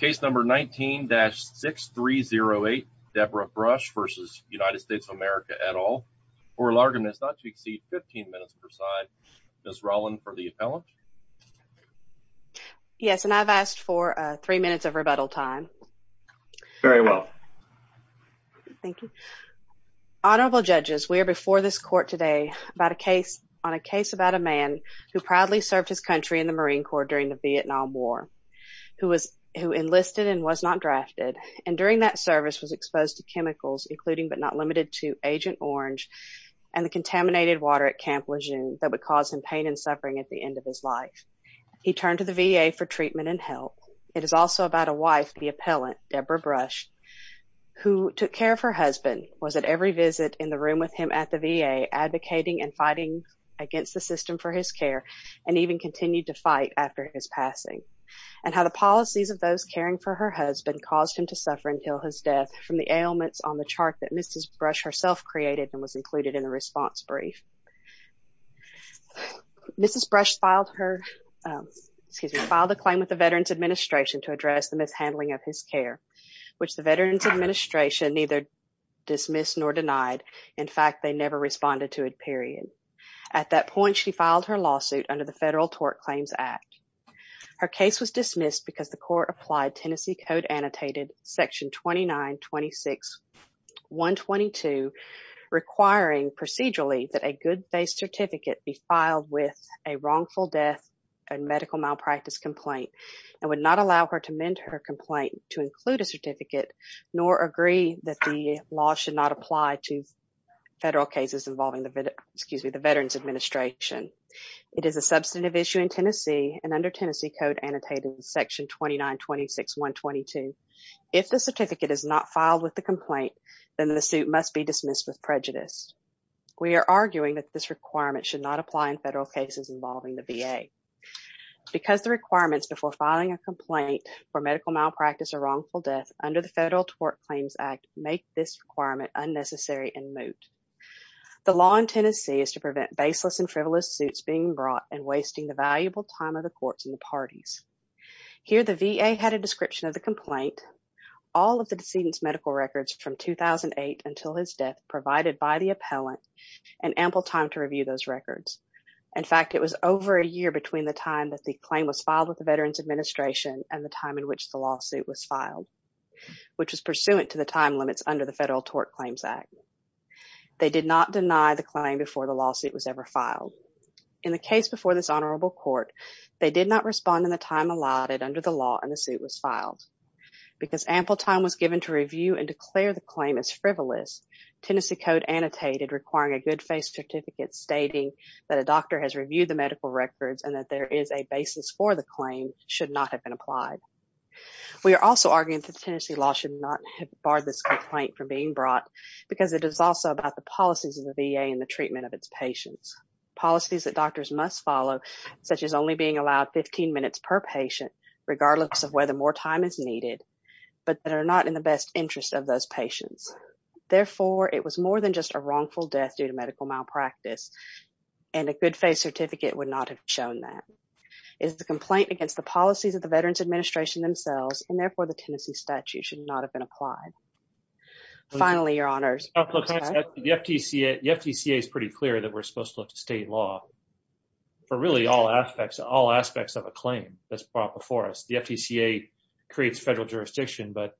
Case number 19-6308, Debra Brusch v. United States of America, et al., for a largeness not to exceed 15 minutes per side. Ms. Rowland for the appellant. Yes, and I've asked for three minutes of rebuttal time. Very well. Thank you. Honorable judges, we are before this court today about a case on a case about a man who proudly served his country in the Marine Corps during the Vietnam War, who enlisted and was not drafted, and during that service was exposed to chemicals, including but not limited to Agent Orange and the contaminated water at Camp Lejeune that would cause him pain and suffering at the end of his life. He turned to the VA for treatment and help. It is also about a wife, the appellant, Debra Brusch, who took care of her husband, was at every visit in the room with him at the VA, advocating and fighting against the passing, and how the policies of those caring for her husband caused him to suffer until his death from the ailments on the chart that Mrs. Brusch herself created and was included in the response brief. Mrs. Brusch filed her, excuse me, filed a claim with the Veterans Administration to address the mishandling of his care, which the Veterans Administration neither dismissed nor denied. In fact, they never responded to it, period. At that point, she filed her lawsuit under the Federal Tort Claims Act. Her case was dismissed because the court applied Tennessee Code Annotated Section 2926.122, requiring procedurally that a good-faith certificate be filed with a wrongful death and medical malpractice complaint. I would not allow her to mend her complaint to include a certificate nor agree that the law should not apply to federal cases involving the, excuse me, the Veterans Administration. It is a substantive issue in Tennessee and under Tennessee Code Annotated Section 2926.122. If the certificate is not filed with the complaint, then the suit must be dismissed with prejudice. We are arguing that this requirement should not apply in federal cases involving the VA. Because the requirements before filing a complaint for medical malpractice or wrongful death under the Federal Tort Claims Act make this requirement unnecessary and moot. The law in Tennessee is to prevent baseless and frivolous suits being brought and wasting the valuable time of the courts and the parties. Here, the VA had a description of the complaint, all of the decedent's medical records from 2008 until his death provided by the appellant, and ample time to review those records. In fact, it was over a year between the time that the claim was filed with the Veterans Administration and the time in which the lawsuit was filed, which was pursuant to the time limits under the Federal Tort Claims Act. They did not deny the claim before the lawsuit was ever filed. In the case before this honorable court, they did not respond in the time allotted under the law and the suit was filed. Because ample time was given to review and declare the claim as frivolous, Tennessee Code Annotated requiring a good-faith certificate stating that a doctor has reviewed the medical records and that there is a basis for the claim should not have been applied. We are also arguing that Tennessee law should not have barred this complaint from being brought because it is also about the policies of the VA and the treatment of its patients. Policies that doctors must follow, such as only being allowed 15 minutes per patient, regardless of whether more time is needed, but that are not in the best interest of those patients. Therefore, it was more than just a wrongful death due to medical malpractice and a good-faith certificate would not have shown that. It is a complaint against the policies of the Veterans Administration themselves and therefore the Tennessee statute should not have been applied. Finally, your honors. The FTCA is pretty clear that we're supposed to look to state law for really all aspects of a claim that's brought before us. The FTCA creates federal jurisdiction but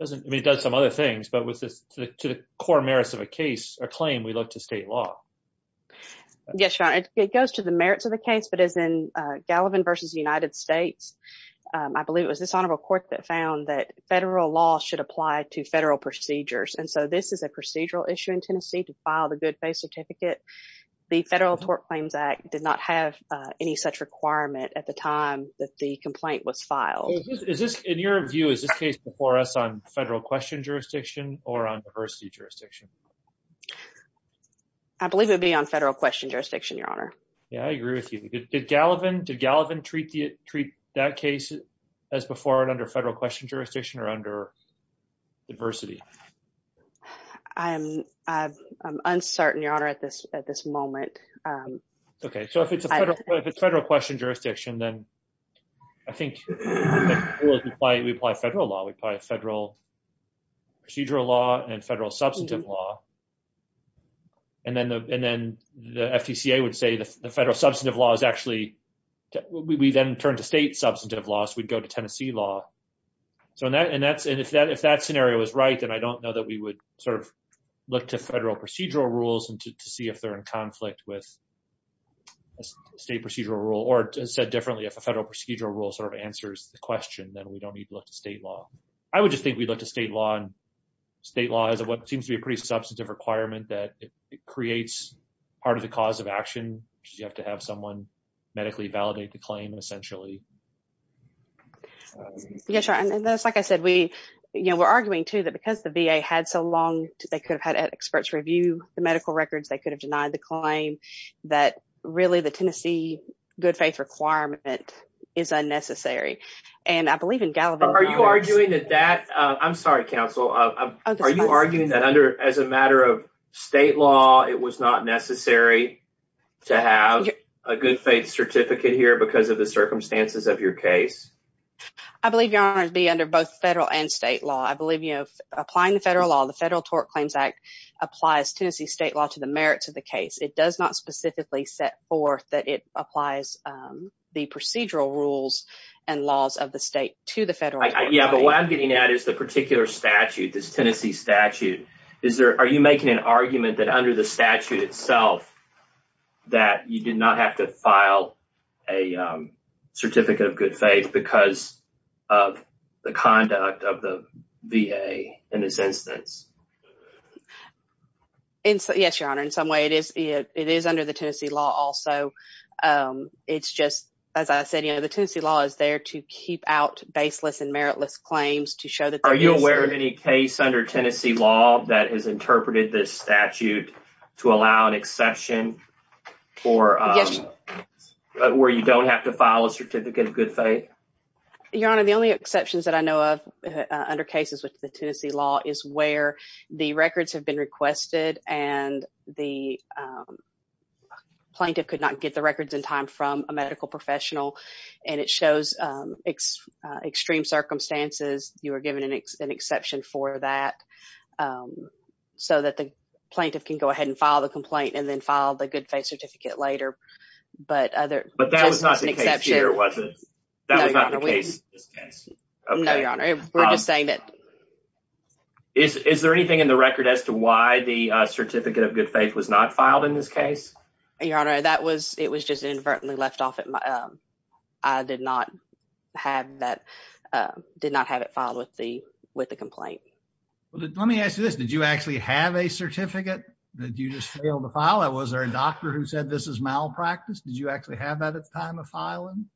doesn't it does some other things but with this to the core merits of a case or claim we look to state law. Yes, your honor. It goes to the merits of the case but as in Gallivan versus United States, I believe it was this honorable court that found that federal law should apply to federal procedures and so this is a procedural issue in Tennessee to file the good-faith certificate. The Federal Tort Claims Act did not have any such requirement at the time that the complaint was filed. In your view, is this case before us on federal question jurisdiction or on diversity jurisdiction? I believe it would be on federal question jurisdiction, your honor. Yeah, I agree with you. Did Gallivan treat that case as before and under federal question jurisdiction or under diversity? I'm uncertain, your honor, at this at this moment. Okay, so if it's a federal question jurisdiction then I think we apply federal law. We apply federal procedural law and federal substantive law and then the FTCA would say the federal substantive law is actually, we then turn to state substantive law so we'd go to Tennessee law. So that and that's and if that if that scenario is right then I don't know that we would sort of look to federal procedural rules and to see if they're in conflict with state procedural rule or said differently if a federal procedural rule sort of answers the question then we don't need to look to state law. I would just think we'd look to state law and state law is what seems to be a pretty substantive requirement that it creates part of the cause of action. You have to have someone medically validate the claim essentially. Yes, like I said we you know we're arguing too that because the VA had so long they could have had experts review the medical records they could have denied the claim that really the Tennessee good faith requirement is unnecessary and I believe in Gallivan. Are you arguing that that I'm sorry counsel are you arguing that under as a matter of state law it was not necessary to have a good faith certificate here because of the circumstances of your case? I believe your honor to be under both federal and state law. I believe you know applying the federal law the Federal Tort Claims Act applies Tennessee state law to the merits of the case. It does not specifically set forth that it applies the procedural rules and laws of the state to the federal. Yeah but what I'm getting at is the particular statute this Tennessee statute is there are you making an argument that under the statute itself that you did not have to file a certificate of good faith because of the conduct of the VA in this instance? Yes your honor in some way it is it is under the Tennessee law also it's just as I said you know the Tennessee law is there to keep out baseless and meritless claims to show that. Are you aware of any case under Tennessee law that has interpreted this statute to allow an exception or where you don't have to file a certificate of good faith? Your honor the only exceptions that I know of under cases with the Tennessee law is where the records have been requested and the plaintiff could not get the records in time from a medical professional and it shows extreme circumstances you are given an exception for that so that the plaintiff can go ahead and file the complaint and then file the good faith certificate later but other but that was not the case here was it? No your honor we're just saying it. Is there anything in the record as to why the certificate of good faith was not filed in this case? Your honor that was it was just inadvertently left off at my I did not have that did not have it filed with the with the complaint. Let me ask you this did you actually have a certificate that you just failed to file? Was there a doctor who said this is malpractice? Did you actually have that at the time of filing?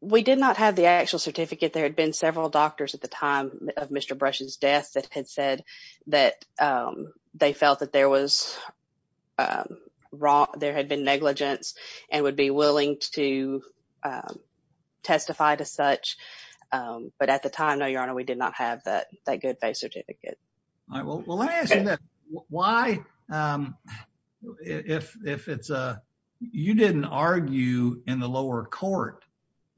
We did not have the actual certificate there had been several doctors at the time of Mr. Brush's death that had said that they felt that there was wrong there had been negligence and would be willing to testify to such but at the time no your honor we did not have that that good faith certificate. Why if it's a you didn't argue in the lower court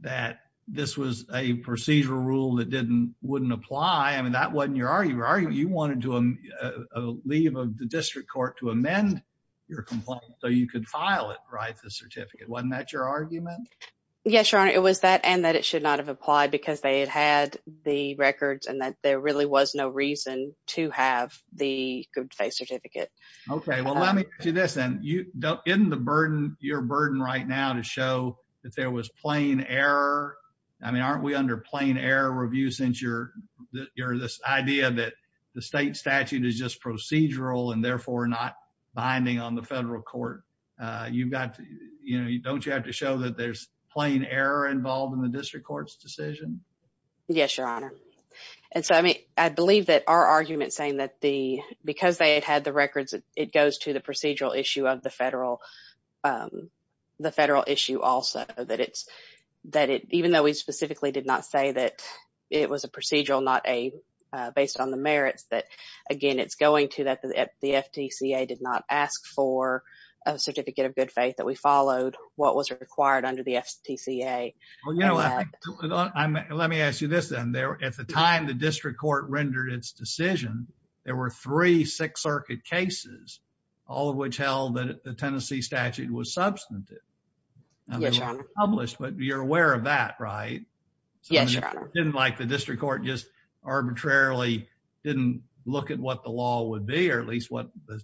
that this was a procedural rule that didn't wouldn't apply I mean that wasn't your argument you wanted to leave of the district court to amend your complaint so you could file it right the certificate wasn't that your argument? Yes your honor it was that and that it should not have applied because they had had the records and that there really was no reason to have the good faith certificate. Okay well let me do this and you don't in the burden your burden right now to show that there was plain error I mean aren't we under plain error review since you're you're this idea that the state statute is just procedural and therefore not binding on the federal court you've got you know you don't you have to show that there's plain error involved in the district courts decision? Yes your honor and so I mean I believe that our argument saying that the because they had had the records it goes to the procedural issue of the federal the federal issue also that it's that it even though we specifically did not say that it was a procedural not a based on the merits that again it's going to that the FTCA did not ask for a certificate of good faith that we followed what was required under the FTCA. Well you know I'm let me ask you this then there at the time the district court rendered its decision there were three Sixth Circuit cases all of which held that the Tennessee statute was substantive published but you're aware of that right? Yes your honor. Didn't like the district court just arbitrarily didn't look at what the law would be or at least what the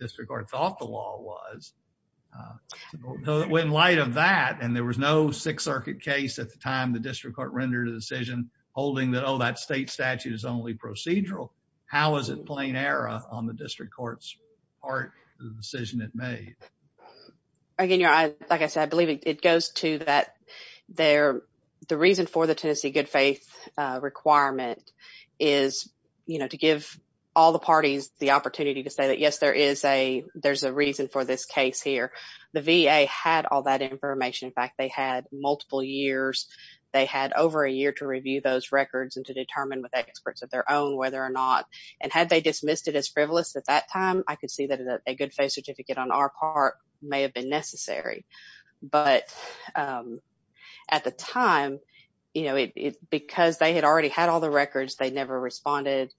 district court thought the law was. In light of that and there was no Sixth Circuit case at the time the district court rendered a decision holding that oh that state statute is only procedural how is it plain error on the district courts part of the decision it made? Again your honor like I said I believe it goes to that they're the reason for the Tennessee good-faith requirement is you know to give all the parties the opportunity to say that yes there is a there's a reason for this case here the VA had all that information in fact they had multiple years they had over a year to review those records and to determine with experts of their own whether or not and had they dismissed it as frivolous at that time I could see that a good faith on our part may have been necessary but at the time you know it because they had already had all the records they never responded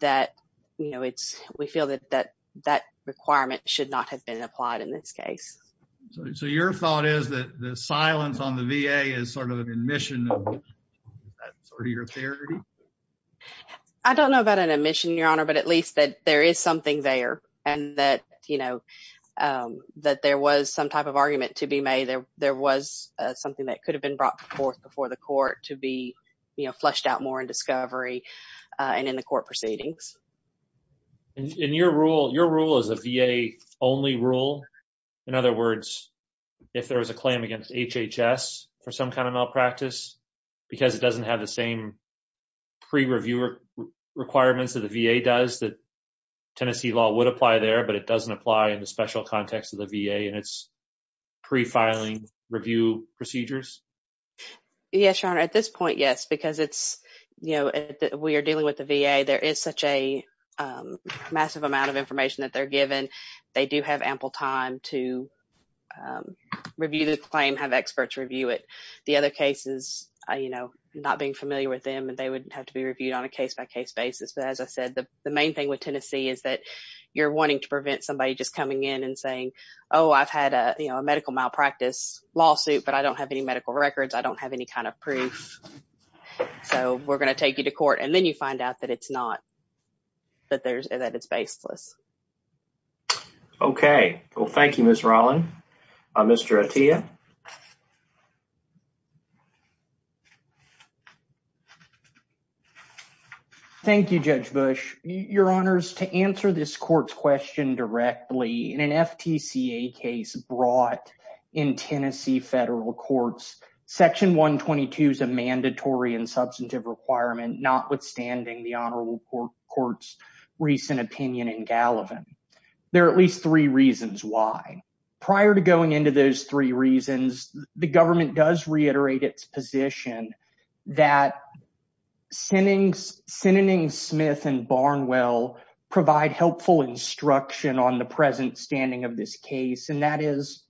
that you know it's we feel that that that requirement should not have been applied in this case. So your thought is that the silence on the VA is sort of an admission of that sort of your theory? I don't know about an admission your honor but at least that there is something there and that you know that there was some type of argument to be made there there was something that could have been brought forth before the court to be you know flushed out more in discovery and in the court proceedings. In your rule your rule is a VA only rule in other words if there was a claim against HHS for some kind of malpractice because it doesn't have the same pre reviewer requirements of the VA does that Tennessee law would apply there but it doesn't apply in the special context of the VA and it's pre filing review procedures? Yes your honor at this point yes because it's you know we are dealing with the VA there is such a massive amount of information that they're given they do have ample time to review the claim have experts review it the other cases you know not being familiar with them and they would have to be reviewed on a case-by-case basis but as I said the the main thing with Tennessee is that you're wanting to prevent somebody just coming in and saying oh I've had a you know a medical malpractice lawsuit but I don't have any medical records I don't have any kind of proof so we're gonna take you to court and then you find out that it's not that there's that it's baseless. Okay well thank you Ms. Rollin. Mr. Atiyah. Thank You Judge Bush your honors to answer this court's question directly in an FTCA case brought in Tennessee federal courts section 122 is a mandatory and substantive requirement notwithstanding the Honorable Court's recent opinion in Gallivan. There are at least three reasons why. Prior to going into those three reasons the government does reiterate its position that Sinning Smith and Barnwell provide helpful instruction on the present standing of this case and that is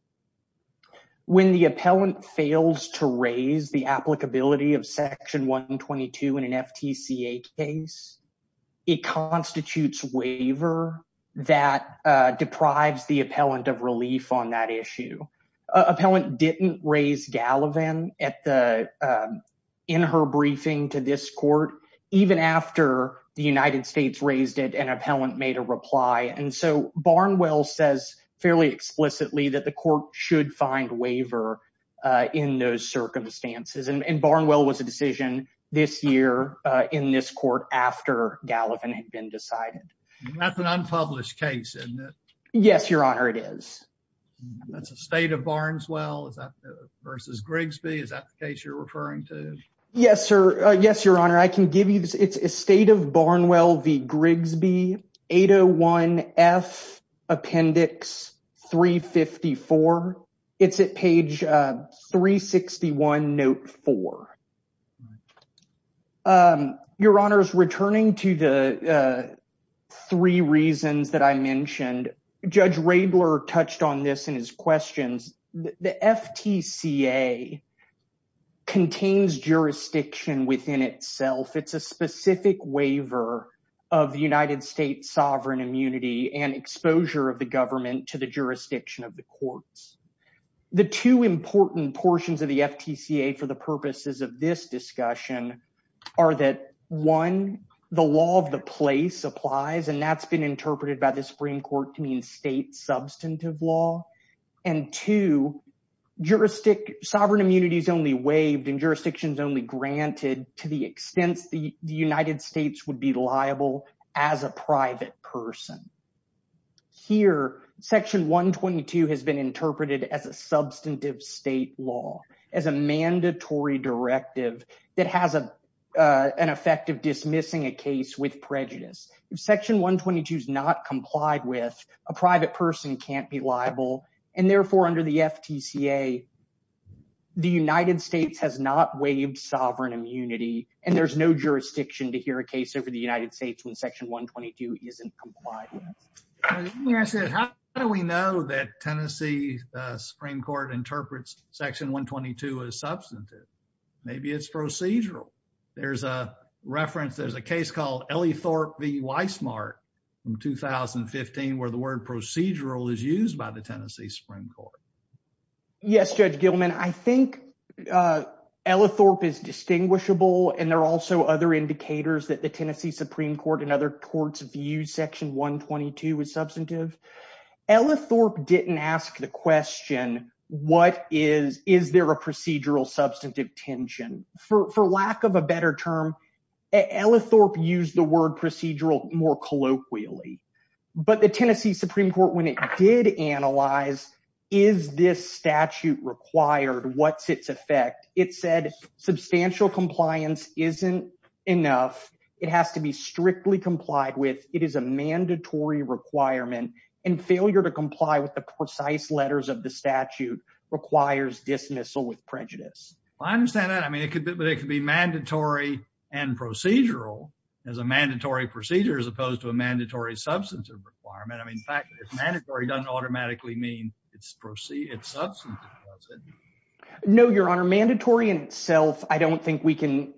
when the appellant fails to raise the applicability of section 122 in an FTCA case it constitutes waiver that deprives the appellant of relief on that issue. Appellant didn't raise Gallivan at the in her briefing to this court even after the United States raised it an appellant made a reply and so Barnwell says fairly explicitly that the court should find waiver in those Gallivan had been decided. That's an unpublished case isn't it? Yes your honor it is. That's a state of Barnswell versus Grigsby is that the case you're referring to? Yes sir yes your honor I can give you this it's a state of Barnwell v Grigsby 801 F Appendix 354 it's at page 361 note 4. Your honors returning to the three reasons that I mentioned Judge Raebler touched on this in his questions the FTCA contains jurisdiction within itself it's a specific waiver of the United States sovereign immunity and exposure of the government to the jurisdiction of the courts. The two important portions of the FTCA for the purposes of this discussion are that one the law of the place applies and that's been interpreted by the Supreme Court to mean state substantive law and two juristic sovereign immunity is only waived and jurisdictions only granted to the extent the United States would be liable as a private person. Here section 122 has been interpreted as a substantive state law as a mandatory directive that has a an effect of dismissing a case with prejudice. If section 122 is not complied with a private person can't be liable and therefore under the FTCA the United States has no jurisdiction to hear a case over the United States when section 122 isn't complied with. How do we know that Tennessee Supreme Court interprets section 122 is substantive? Maybe it's procedural. There's a reference there's a case called Elethorpe v Weismart from 2015 where the word procedural is used by the Tennessee Supreme Court. Yes Judge Gilman I think Elethorpe is distinguishable and there are also other indicators that the Tennessee Supreme Court and other courts view section 122 is substantive. Elethorpe didn't ask the question what is is there a procedural substantive tension for lack of a better term Elethorpe used the word procedural more colloquially but the Tennessee Supreme Court when it did analyze is this statute required? What's its effect? It said substantial compliance isn't enough. It has to be strictly complied with. It is a mandatory requirement and failure to comply with the precise letters of the statute requires dismissal with prejudice. I understand that. I mean it could but it could be mandatory and procedural as a mandatory procedure as opposed to a mandatory substantive requirement. I mean fact mandatory doesn't automatically mean it's substantive does it? No your honor mandatory in itself I don't think we can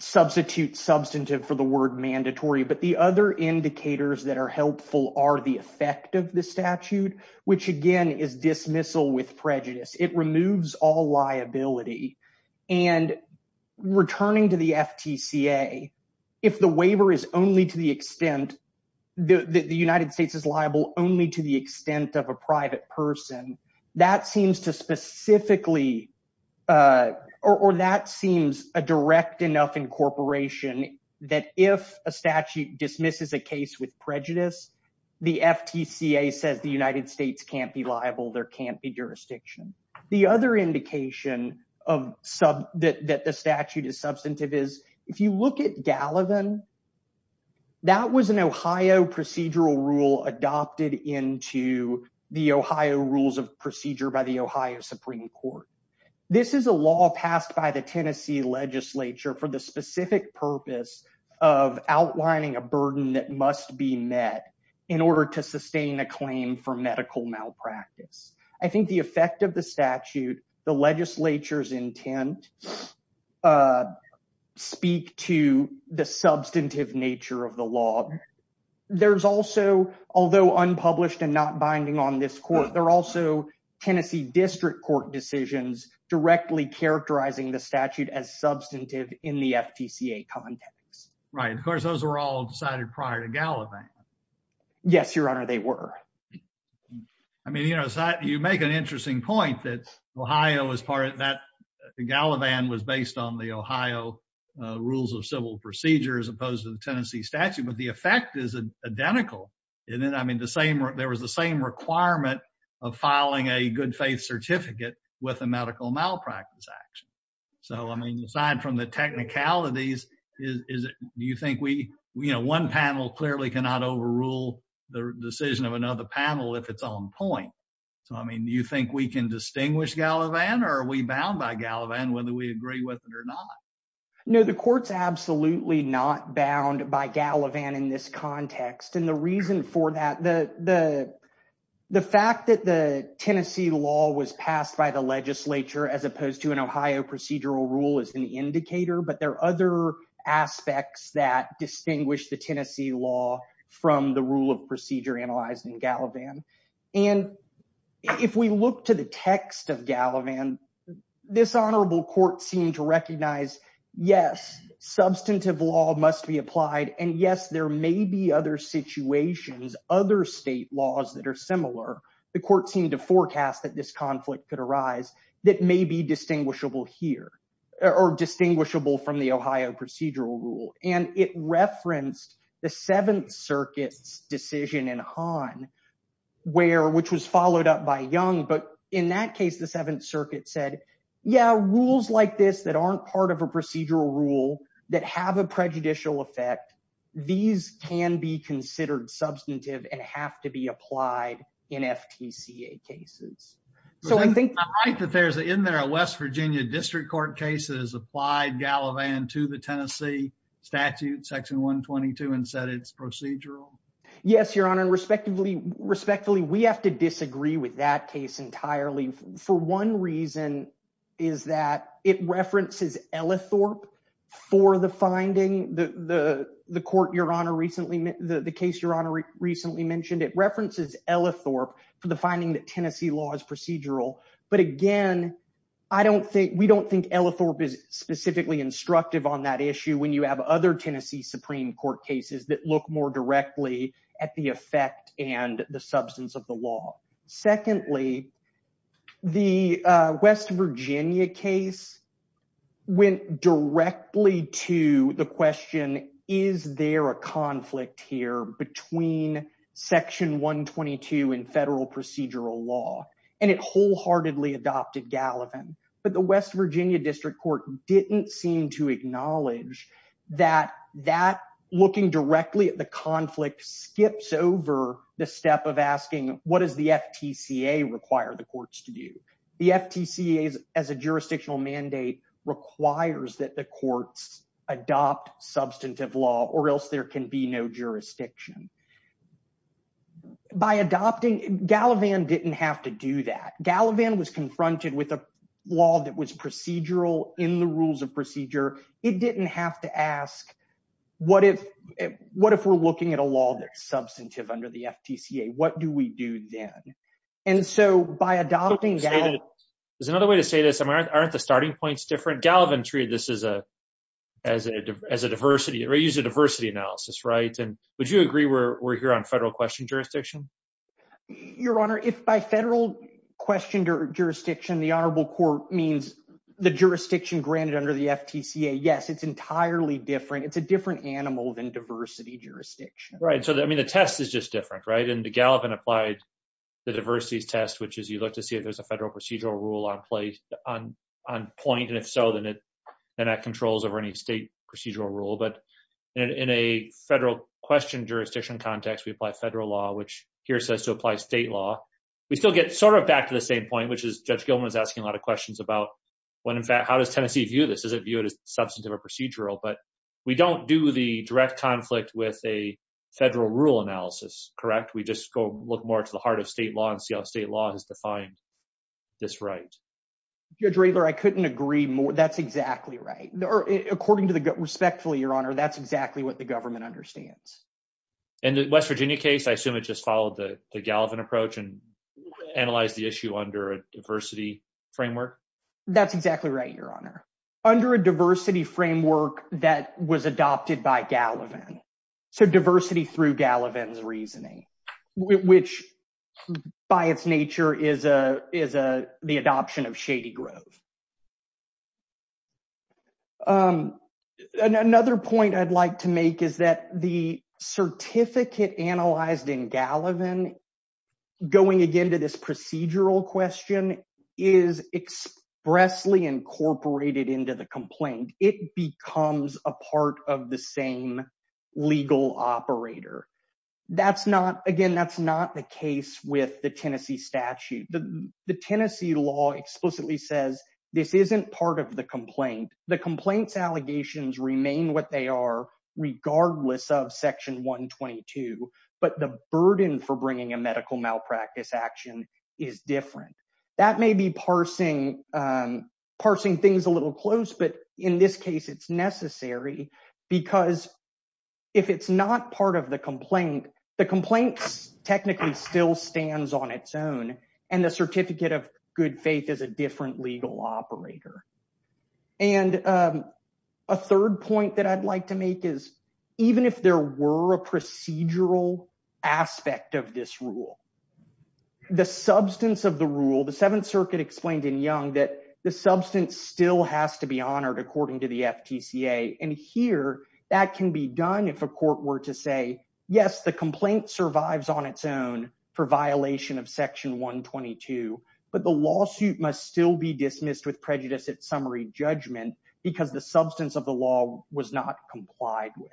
substitute substantive for the word mandatory but the other indicators that are helpful are the effect of the statute which again is dismissal with prejudice. It removes all liability and returning to the FTCA if the waiver is only to the extent that the United States is liable only to the extent of a private person that seems to specifically or that seems a direct enough incorporation that if a statute dismisses a case with prejudice the FTCA says the United States can't be liable there can't be jurisdiction. The other indication of some that the statute is substantive is if you look at Gallivan that was an Ohio procedural rule adopted into the Ohio rules of procedure by the Ohio Supreme Court. This is a law passed by the Tennessee legislature for the specific purpose of outlining a burden that must be met in order to sustain a claim for medical malpractice. I think the effect of the statute the legislature's intent speak to the substantive nature of the law. There's also although unpublished and not binding on this court there are also Tennessee District Court decisions directly characterizing the statute as substantive in the FTCA context. Right of course those are all decided prior to Gallivan. Yes your honor they were. I mean you know you make an interesting point that Ohio is part of that Gallivan was based on the Ohio rules of civil procedure as opposed to the Tennessee statute but the effect is identical and then I mean the same there was the same requirement of filing a good-faith certificate with a medical malpractice action. So I mean aside from the technicalities is it you think we you know one panel clearly cannot overrule the decision of another panel if it's on point. So I mean you think we can distinguish Gallivan or are we bound by whether or not. No the courts absolutely not bound by Gallivan in this context and the reason for that the the the fact that the Tennessee law was passed by the legislature as opposed to an Ohio procedural rule is an indicator but there are other aspects that distinguish the Tennessee law from the rule of procedure analyzed in Gallivan and if we look to the text of Gallivan this recognize yes substantive law must be applied and yes there may be other situations other state laws that are similar the court seemed to forecast that this conflict could arise that may be distinguishable here or distinguishable from the Ohio procedural rule and it referenced the Seventh Circuit's decision in Han where which was followed up by young but in that case the Seventh Circuit said yeah rules like this that aren't part of a procedural rule that have a prejudicial effect these can be considered substantive and have to be applied in FTC a cases so I think that there's in there a West Virginia District Court cases applied Gallivan to the Tennessee statute section 122 and said it's procedural yes your honor and respectfully we have to disagree with that case entirely for one reason is that it references Elethorpe for the finding the the the court your honor recently met the case your honor recently mentioned it references Elethorpe for the finding that Tennessee law is procedural but again I don't think we don't think Elethorpe is specifically instructive on that issue when you have other Tennessee Supreme Court cases that look more directly at the effect and the substance of the law secondly the West Virginia case went directly to the question is there a conflict here between section 122 and federal procedural law and it wholeheartedly adopted Gallivan but the West Virginia District Court didn't seem to acknowledge that that looking directly at the conflict skips over the step of asking what is the FTC a require the courts to do the FTC is as a jurisdictional mandate requires that the courts adopt substantive law or else there can be no jurisdiction by adopting Gallivan didn't have to do that Gallivan was confronted with a law that was procedural in the rules of procedure it didn't have to ask what if what if we're looking at a law that's substantive under the FTC a what do we do then and so by adopting Gallivan there's another way to say this I'm aren't the starting points different Gallivan treated this is a as a as a diversity or use a diversity analysis right and would you agree we're here on federal question jurisdiction your honor if by federal questioned or jurisdiction the Honorable Court means the jurisdiction granted under the FTC a yes it's entirely different it's a different animal than diversity jurisdiction right so that I mean the test is just different right and the Gallivan applied the diversity test which is you look to see if there's a federal procedural rule on place on on point and if so then it then that controls over any state procedural rule but in a federal question jurisdiction context we apply federal law which here says to apply state law we still get sort of back to the same point which is judge Gilman is asking a lot of questions about when in fact how does Tennessee view this is it viewed as substantive or procedural but we don't do the direct conflict with a federal rule analysis correct we just go look more to the heart of state law and see how state law has defined this right your trailer I couldn't agree more that's exactly right according to the respectfully your honor that's exactly what the government understands and the West Virginia case I assume it just followed the Gallivan approach and analyze the issue under a diversity framework that's exactly right your honor under a diversity framework that was adopted by Gallivan so diversity through Gallivan's reasoning which by its nature is a is a the adoption of Shady Grove another point I'd like to make is that the certificate analyzed in Gallivan going again to this procedural question is expressly incorporated into the complaint it becomes a part of the same legal operator that's not again that's not the case with the Tennessee statute the Tennessee law explicitly says this isn't part of the complaint the complaints allegations remain what they are regardless of section 122 but the burden for bringing a medical malpractice action is different that may be parsing parsing things a little close but in this case it's necessary because if it's not part of the complaint the complaints technically still stands on its own and the certificate of good faith is a different legal operator and a third point that I'd like to make is even if there were a procedural aspect of this rule the substance of the rule the Seventh Circuit explained in young that the substance still has to be honored according to the FTCA and here that can be done if a court were to say yes the complaint survives on its own for violation of section 122 but the lawsuit must still be dismissed with prejudice at summary judgment because the substance of the law was not complied with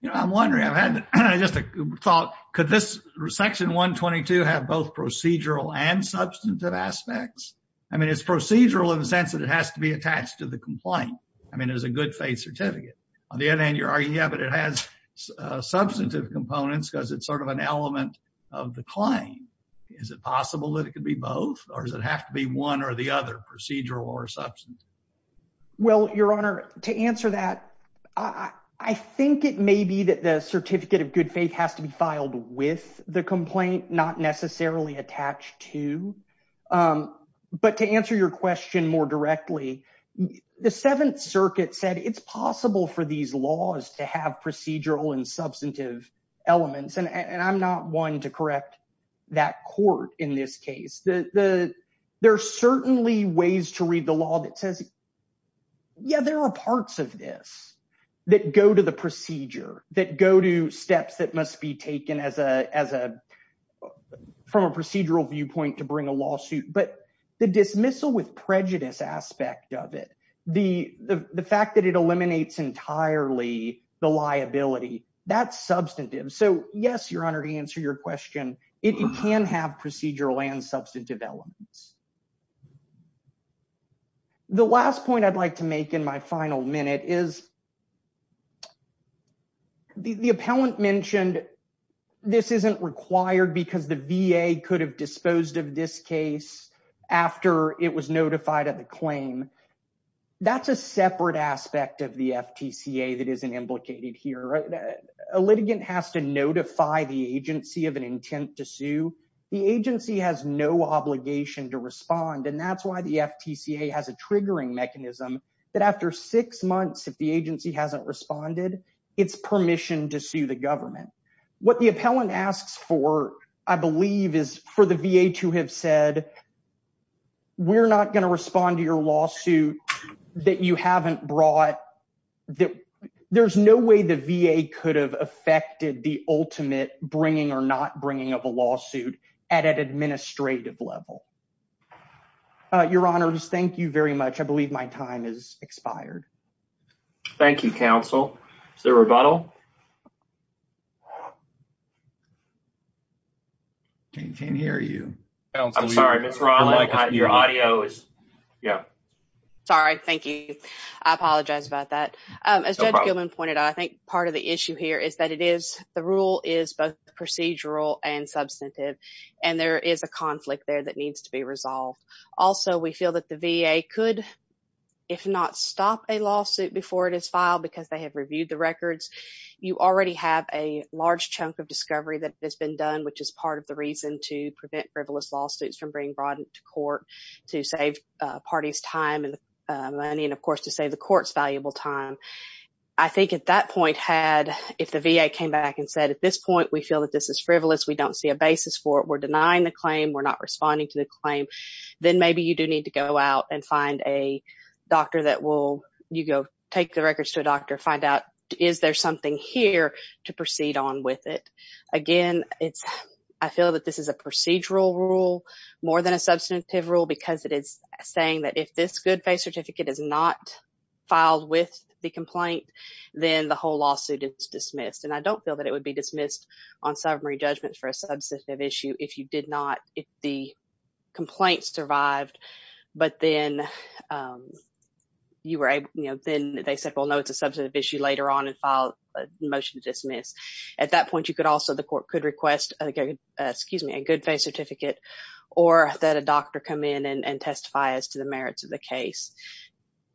you know I'm wondering I've had just a thought could this section 122 have both procedural and substantive aspects I mean it's procedural in the sense that it has to be attached to the complaint I mean it was a good faith certificate on the other hand you're arguing yeah but it has substantive components because it's sort of an element of the claim is it possible that it could be both or does it have to be one or the other procedural or substance well your honor to answer that I I think it may be that the certificate of good faith has to be filed with the complaint not necessarily attached to but to answer your question more directly the Seventh Circuit said it's possible for these laws to have procedural and substantive elements and and I'm not one to correct that court in this case the there are certainly ways to read the law that says yeah there are parts of this that go to the procedure that go to steps that must be taken as a as a from a procedural viewpoint to bring a lawsuit but the dismissal with prejudice aspect of it the the fact that it eliminates entirely the liability that's substantive so yes your honor to answer your question it can have procedural and substantive elements the last point I'd like to make in my final minute is the the appellant mentioned this isn't required because the VA could have disposed of this case after it was the FTC a that isn't implicated here a litigant has to notify the agency of an intent to sue the agency has no obligation to respond and that's why the FTC a has a triggering mechanism that after six months if the agency hasn't responded it's permission to sue the government what the appellant asks for I believe is for the VA to have said we're not going to respond to your lawsuit that you haven't brought that there's no way the VA could have affected the ultimate bringing or not bringing of a lawsuit at an administrative level your honors thank you very much I believe my time is expired thank you counsel the rebuttal can't hear you your audio is yeah sorry thank you I apologize about that as a human pointed I think part of the issue here is that it is the rule is both procedural and substantive and there is a conflict there that needs to be resolved also we feel that the VA could if not stop a lawsuit before it is filed because they have reviewed the records you already have a large chunk of discovery that been done which is part of the reason to prevent frivolous lawsuits from being brought into court to save parties time and money and of course to say the courts valuable time I think at that point had if the VA came back and said at this point we feel that this is frivolous we don't see a basis for it we're denying the claim we're not responding to the claim then maybe you do need to go out and find a doctor that will you go take the records to a doctor find out is there something here to proceed on with it again it's I feel that this is a procedural rule more than a substantive rule because it is saying that if this good faith certificate is not filed with the complaint then the whole lawsuit it's dismissed and I don't feel that it would be dismissed on summary judgments for a substantive issue if you did not if the complaint survived but then you were a you know then they said well no it's a substantive issue later on and file a motion to dismiss at that point you could also the court could request a good excuse me a good faith certificate or that a doctor come in and testify as to the merits of the case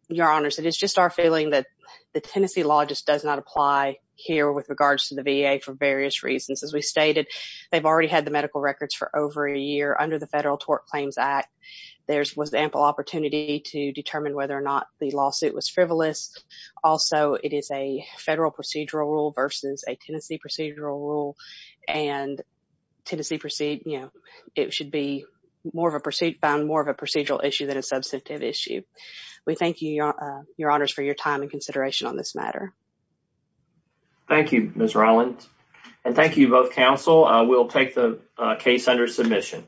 your honors it is just our feeling that the Tennessee law just does not apply here with regards to the VA for various reasons as we stated they've already had the medical records for over a year under the Federal Tort Claims Act there's was ample opportunity to determine whether or not the lawsuit was frivolous also it is a federal procedural rule versus a Tennessee procedural rule and Tennessee proceed you know it should be more of a pursuit found more of a procedural issue than a substantive issue we thank you your honors for your time and consideration on this matter thank you mr. Allen and thank you both counsel I will take the case under submission